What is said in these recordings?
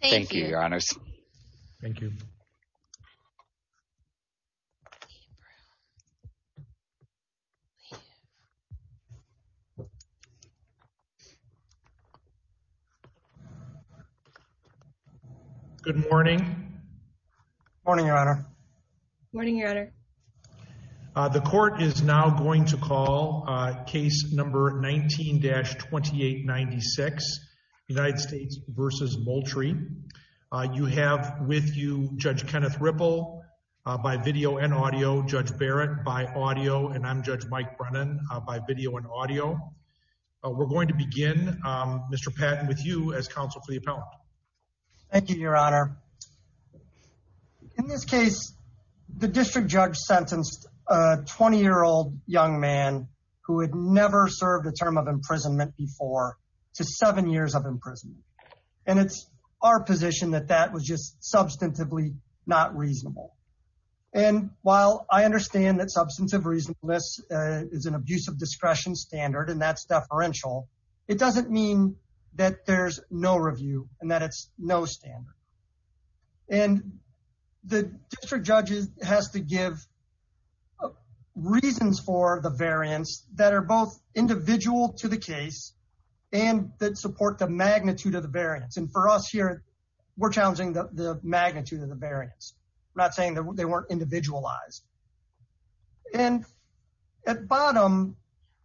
Thank you, your honors. Thank you. Good morning. Morning, your honor. Morning, your honor. The court is now going to call case number 19-2896, United States v. Moultrie. You have with you Judge Kenneth Ripple by video and audio, Judge Barrett by audio, and I'm Judge Mike Brennan by video and audio. We're going to begin, Mr. Patton, with you as counsel for the appellant. Thank you, your honor. Your honor, in this case, the district judge sentenced a 20-year-old young man who had never served a term of imprisonment before to seven years of imprisonment. And it's our position that that was just substantively not reasonable. And while I understand that substantive reasonableness is an abuse of discretion standard, and that's deferential, it doesn't mean that there's no review and that it's no standard. And the district judge has to give reasons for the variance that are both individual to the case and that support the magnitude of the variance. And for us here, we're challenging the magnitude of the variance. I'm not saying they weren't individualized. And at bottom,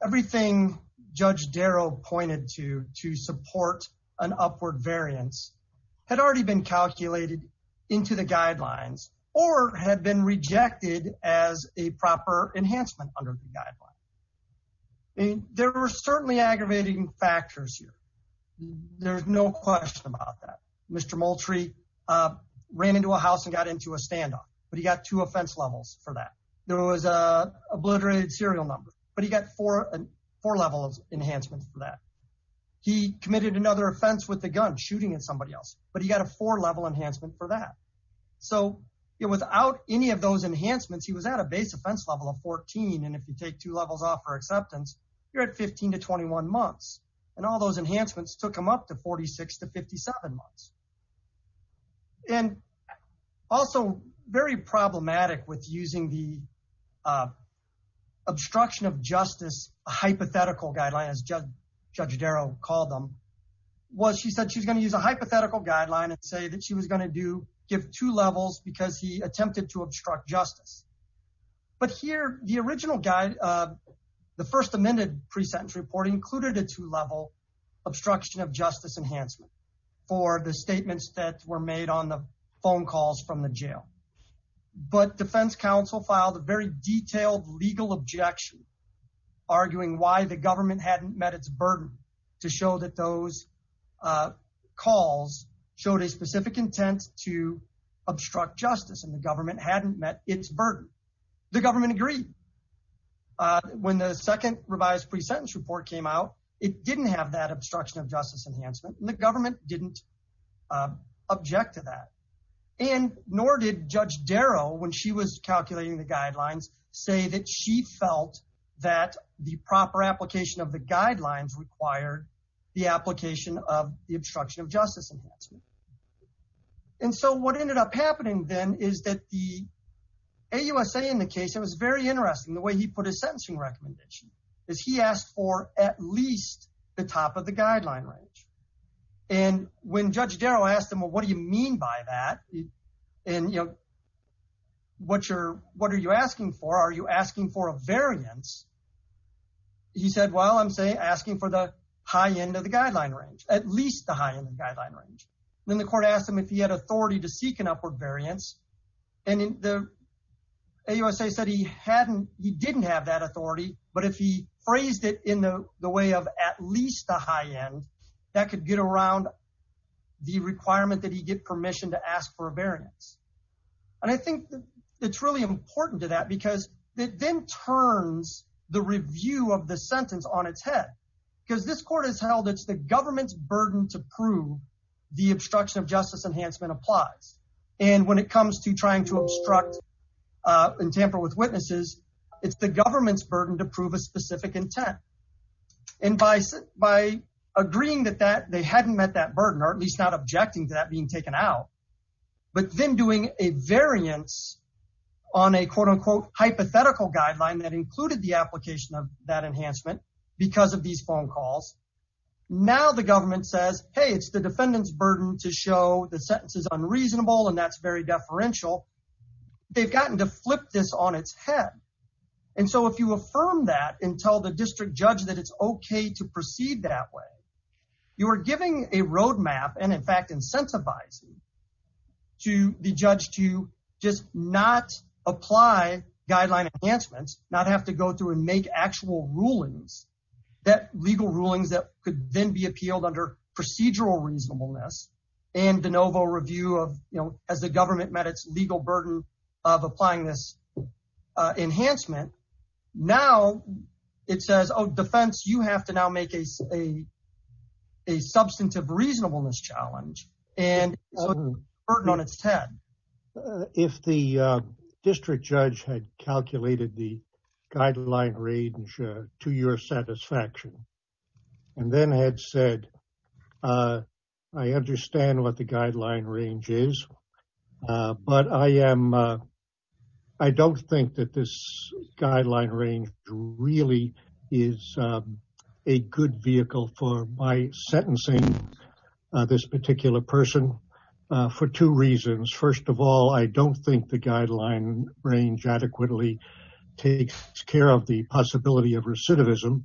everything Judge Darrow pointed to to support an upward variance had already been calculated into the guidelines or had been rejected as a proper enhancement under the guidelines. And there were certainly aggravating factors here. There's no question about that. Mr. Moultrie ran into a house and got into a standoff, but he got two offense levels for that. There was an obliterated serial number, but he got four levels enhancement for that. He committed another offense with a gun, shooting at somebody else, but he got a four-level enhancement for that. So without any of those enhancements, he was at a base offense level of 14. And if you take two levels off for acceptance, you're at 15 to 21 months. And all those enhancements took him up to 46 to 57 months. And also very problematic with using the obstruction of justice hypothetical guideline, as Judge Darrow called them, was she said she's going to use a hypothetical guideline and say that she was going to give two levels because he attempted to obstruct justice. But here, the original guide, the first amended pre-sentence report included a two-level obstruction of justice enhancement for the statements that were made on the phone calls from the jail. But defense counsel filed a very detailed legal objection, arguing why the government hadn't met its burden to show that those calls showed a specific intent to obstruct justice, and the government hadn't met its burden. The government agreed. When the second revised pre-sentence report came out, it didn't have that obstruction of justice enhancement, and the government didn't object to that. And nor did Judge Darrow, when she was calculating the guidelines, say that she felt that the proper application of the guidelines required the application of the obstruction of justice enhancement. And so what ended up happening then is that the AUSA in the case, it was very interesting, the way he put his sentencing recommendation, is he asked for at least the top of the guideline range. And when Judge Darrow asked him, well, what do you mean by that? And, you know, what are you asking for? Are you asking for a variance? He said, well, I'm asking for the high end of the guideline range, at least the high end of the guideline range. Then the court asked him if he had authority to seek an upward variance, and the AUSA said he didn't have that authority, but if he phrased it in the way of at least the high end, that could get around the requirement that he get permission to ask for a variance. And I think it's really important to that because it then turns the review of the sentence on its head. Because this court has held it's the government's burden to prove the obstruction of justice enhancement applies. And when it comes to trying to obstruct and tamper with witnesses, it's the government's burden to prove a specific intent. And by agreeing that they hadn't met that burden, or at least not objecting to that being taken out, but then doing a variance on a quote unquote hypothetical guideline that included the application of that enhancement because of these phone calls. Now the government says, hey, it's the defendant's burden to show the sentence is unreasonable and that's very deferential. They've gotten to flip this on its head. And so if you affirm that and tell the district judge that it's okay to proceed that way, you are giving a roadmap and in fact incentivizing to the judge to just not apply guideline enhancements, not have to go through and make actual rulings that legal rulings that could then be appealed under procedural reasonableness. And de novo review of, you know, as the government met its legal burden of applying this enhancement. Now it says, oh, defense, you have to now make a substantive reasonableness challenge and burden on its head. If the district judge had calculated the guideline range to your satisfaction, and then had said, I understand what the guideline range is. But I don't think that this guideline range really is a good vehicle for my sentencing this particular person for two reasons. First of all, I don't think the guideline range adequately takes care of the possibility of recidivism.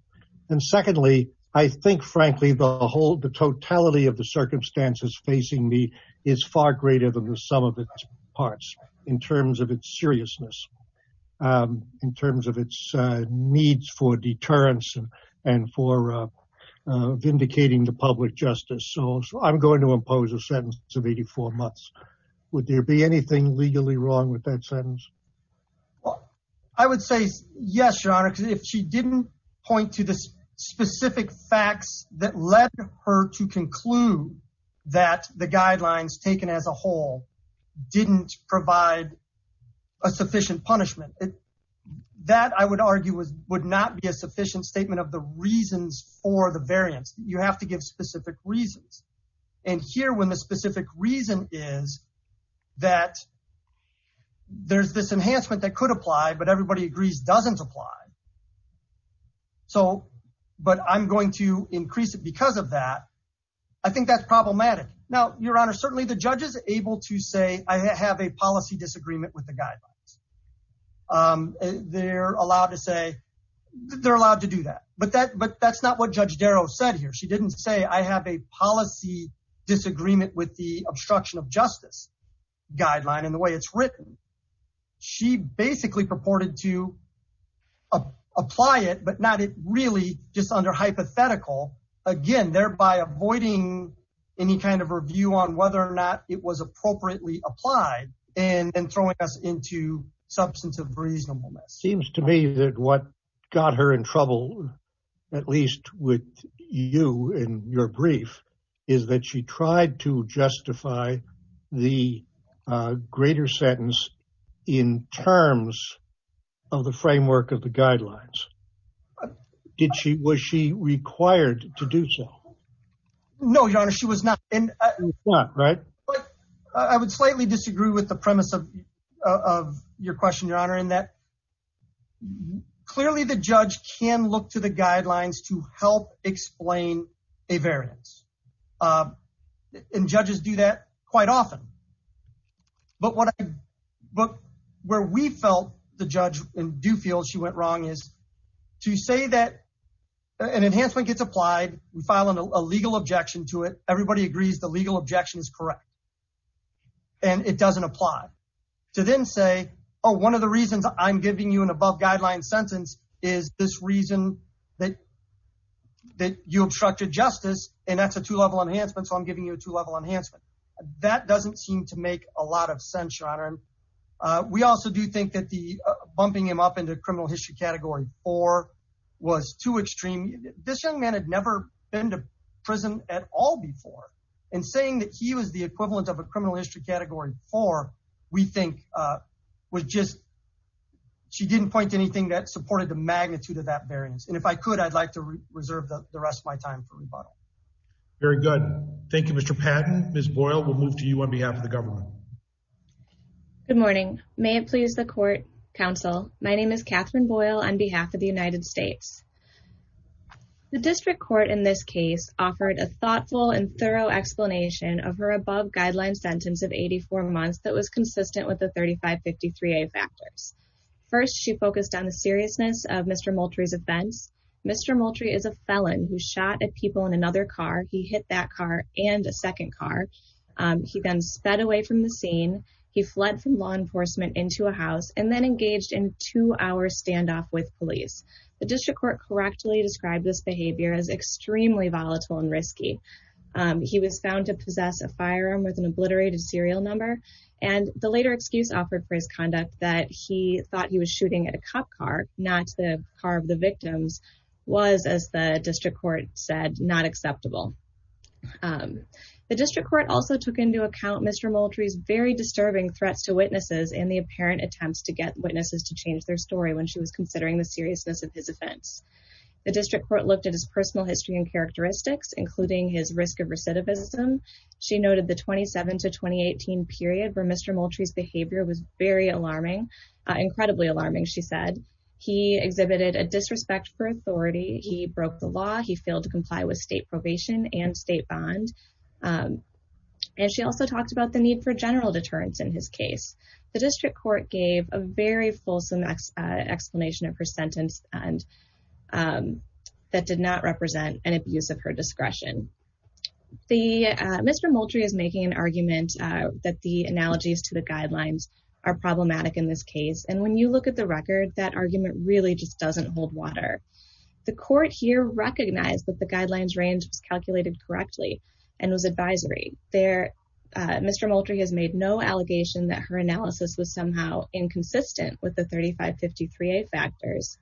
And secondly, I think, frankly, the totality of the circumstances facing me is far greater than the sum of its parts in terms of its seriousness, in terms of its needs for deterrence and for vindicating the public justice. So I'm going to impose a sentence of 84 months. Would there be anything legally wrong with that sentence? I would say yes, Your Honor, if she didn't point to the specific facts that led her to conclude that the guidelines taken as a whole didn't provide a sufficient punishment. That, I would argue, would not be a sufficient statement of the reasons for the variance. You have to give specific reasons. And here, when the specific reason is that there's this enhancement that could apply, but everybody agrees doesn't apply. But I'm going to increase it because of that. I think that's problematic. Now, Your Honor, certainly the judge is able to say, I have a policy disagreement with the guidelines. They're allowed to do that. But that's not what Judge Darrow said here. She didn't say, I have a policy disagreement with the obstruction of justice guideline and the way it's written. She basically purported to apply it, but not really just under hypothetical, again, thereby avoiding any kind of review on whether or not it was appropriately applied and throwing us into substantive reasonableness. It seems to me that what got her in trouble, at least with you and your brief, is that she tried to justify the greater sentence in terms of the framework of the guidelines. Was she required to do so? No, Your Honor, she was not. She was not, right? But I would slightly disagree with the premise of your question, Your Honor, in that clearly the judge can look to the guidelines to help explain a variance. And judges do that quite often. But where we felt the judge in Dufield, she went wrong, is to say that an enhancement gets applied. We file a legal objection to it. Everybody agrees the legal objection is correct. And it doesn't apply. To then say, oh, one of the reasons I'm giving you an above-guideline sentence is this reason that you obstructed justice, and that's a two-level enhancement, so I'm giving you a two-level enhancement. That doesn't seem to make a lot of sense, Your Honor. We also do think that bumping him up into criminal history category four was too extreme. This young man had never been to prison at all before. And saying that he was the equivalent of a criminal history category four, we think, was just – she didn't point to anything that supported the magnitude of that variance. And if I could, I'd like to reserve the rest of my time for rebuttal. Very good. Thank you, Mr. Patton. Ms. Boyle, we'll move to you on behalf of the government. Good morning. May it please the court, counsel, my name is Catherine Boyle on behalf of the United States. The district court in this case offered a thoughtful and thorough explanation of her above-guideline sentence of 84 months that was consistent with the 3553A factors. First, she focused on the seriousness of Mr. Moultrie's offense. Mr. Moultrie is a felon who shot at people in another car. He hit that car and a second car. He then sped away from the scene. He fled from law enforcement into a house and then engaged in two-hour standoff with police. The district court correctly described this behavior as extremely volatile and risky. He was found to possess a firearm with an obliterated serial number. And the later excuse offered for his conduct that he thought he was shooting at a cop car, not the car of the victims, was, as the district court said, not acceptable. The district court also took into account Mr. Moultrie's very disturbing threats to witnesses and the apparent attempts to get witnesses to change their story when she was considering the seriousness of his offense. The district court looked at his personal history and characteristics, including his risk of recidivism. She noted the 27 to 2018 period where Mr. Moultrie's behavior was very alarming, incredibly alarming, she said. He exhibited a disrespect for authority. He broke the law. He failed to comply with state probation and state bond. And she also talked about the need for general deterrence in his case. The district court gave a very fulsome explanation of her sentence that did not represent an abuse of her discretion. Mr. Moultrie is making an argument that the analogies to the guidelines are problematic in this case. And when you look at the record, that argument really just doesn't hold water. The court here recognized that the guidelines range was calculated correctly and was advisory. Mr. Moultrie has made no allegation that her analysis was somehow inconsistent with the 3553A factors.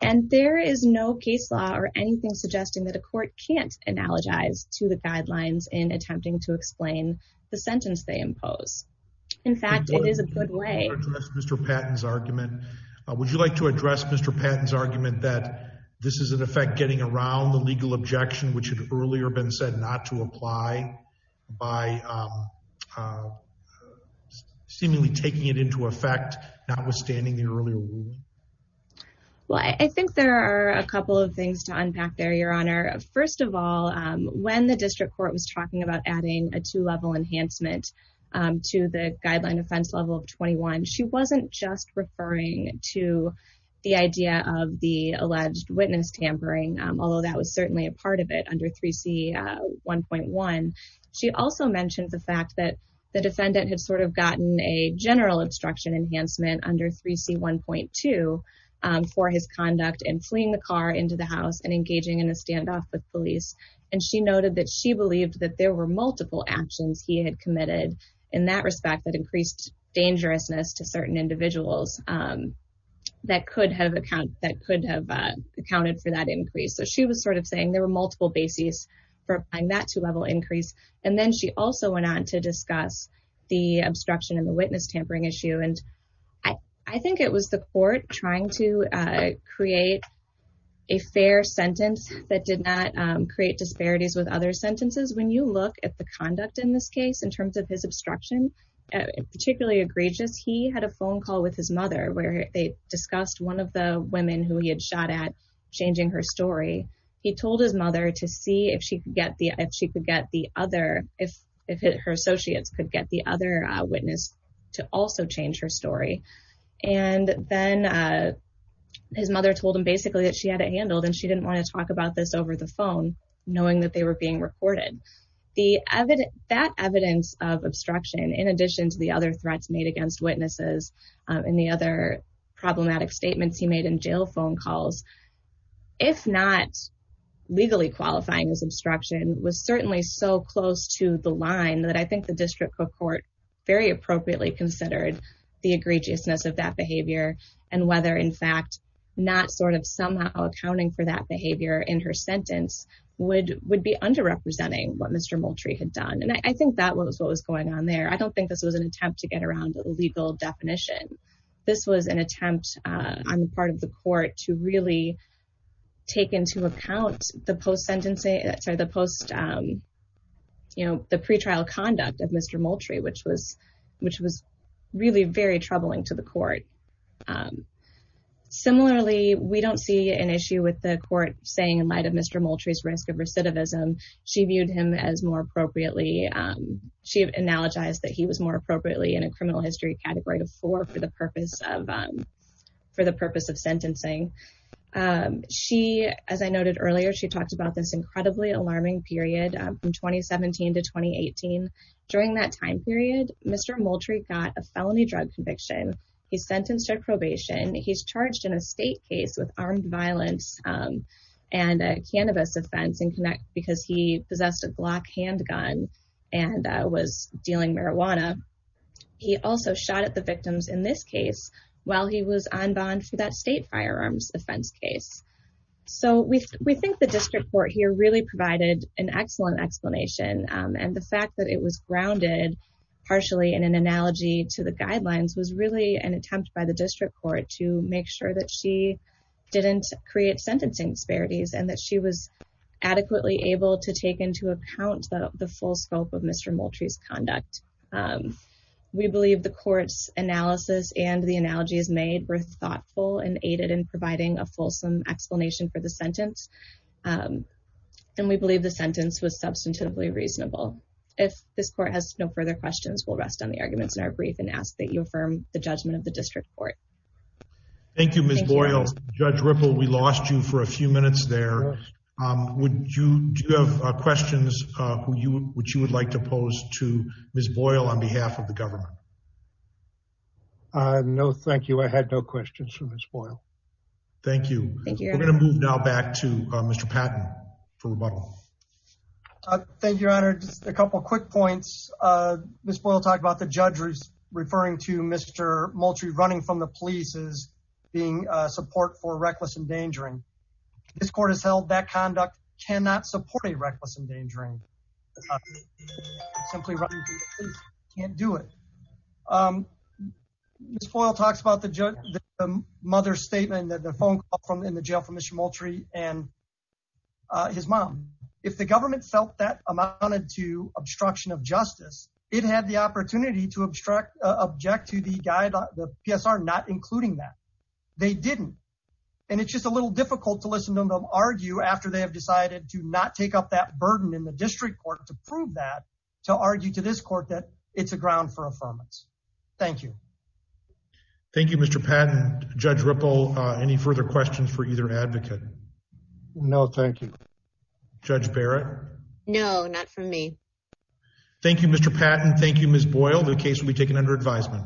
And there is no case law or anything suggesting that a court can't analogize to the guidelines in attempting to explain the sentence they impose. In fact, it is a good way. Mr. Patton's argument. Would you like to address Mr. Patton's argument that this is in effect getting around the legal objection, which had earlier been said not to apply by seemingly taking it into effect, notwithstanding the earlier ruling? Well, I think there are a couple of things to unpack there, Your Honor. First of all, when the district court was talking about adding a two-level enhancement to the guideline offense level of 21, she wasn't just referring to the idea of the alleged witness tampering, although that was certainly a part of it under 3C1.1. She also mentioned the fact that the defendant had sort of gotten a general obstruction enhancement under 3C1.2 for his conduct in fleeing the car into the house and engaging in a standoff with police. And she noted that she believed that there were multiple actions he had committed in that respect that increased dangerousness to certain individuals that could have accounted for that increase. So she was sort of saying there were multiple bases for applying that two-level increase. And then she also went on to discuss the obstruction and the witness tampering issue. And I think it was the court trying to create a fair sentence that did not create disparities with other sentences. When you look at the conduct in this case in terms of his obstruction, particularly egregious, he had a phone call with his mother where they discussed one of the women who he had shot at changing her story. He told his mother to see if her associates could get the other witness to also change her story. And then his mother told him basically that she had it handled and she didn't want to talk about this over the phone knowing that they were being recorded. That evidence of obstruction, in addition to the other threats made against witnesses and the other problematic statements he made in jail phone calls, if not legally qualifying as obstruction, was certainly so close to the line that I think the district court very appropriately considered the egregiousness of that behavior. And whether, in fact, not sort of somehow accounting for that behavior in her sentence would be underrepresenting what Mr. Moultrie had done. And I think that was what was going on there. I don't think this was an attempt to get around a legal definition. This was an attempt on the part of the court to really take into account the pre-trial conduct of Mr. Moultrie, which was really very troubling to the court. Similarly, we don't see an issue with the court saying in light of Mr. Moultrie's risk of recidivism, she viewed him as more appropriately. She analogized that he was more appropriately in a criminal history category of four for the purpose of sentencing. She, as I noted earlier, she talked about this incredibly alarming period from 2017 to 2018. During that time period, Mr. Moultrie got a felony drug conviction. He's sentenced to probation. He's charged in a state case with armed violence and a cannabis offense because he possessed a Glock handgun and was dealing marijuana. He also shot at the victims in this case while he was on bond for that state firearms offense case. We think the district court here really provided an excellent explanation. The fact that it was grounded partially in an analogy to the guidelines was really an attempt by the district court to make sure that she didn't create sentencing disparities and that she was adequately able to take into account the full scope of Mr. Moultrie's conduct. We believe the court's analysis and the analogies made were thoughtful and aided in providing a fulsome explanation for the sentence. And we believe the sentence was substantively reasonable. If this court has no further questions, we'll rest on the arguments in our brief and ask that you affirm the judgment of the district court. Thank you, Ms. Boyle. Judge Ripple, we lost you for a few minutes there. Do you have questions which you would like to pose to Ms. Boyle on behalf of the government? No, thank you. I had no questions for Ms. Boyle. Thank you. We're going to move now back to Mr. Patton for rebuttal. Thank you, Your Honor. Just a couple of quick points. Ms. Boyle talked about the judge referring to Mr. Moultrie running from the police as being support for reckless endangering. This court has held that conduct cannot support a reckless endangering. Simply running from the police can't do it. Ms. Boyle talks about the mother's statement and the phone call in the jail from Mr. Moultrie and his mom. If the government felt that amounted to obstruction of justice, it had the opportunity to object to the PSR not including that. They didn't. It's just a little difficult to listen to them argue after they have decided to not take up that burden in the district court to prove that, to argue to this court that it's a ground for affirmance. Thank you. Thank you, Mr. Patton. Judge Ripple, any further questions for either advocate? No, thank you. Judge Barrett? No, not for me. Thank you, Mr. Patton. Thank you, Ms. Boyle. The case will be taken under advisement.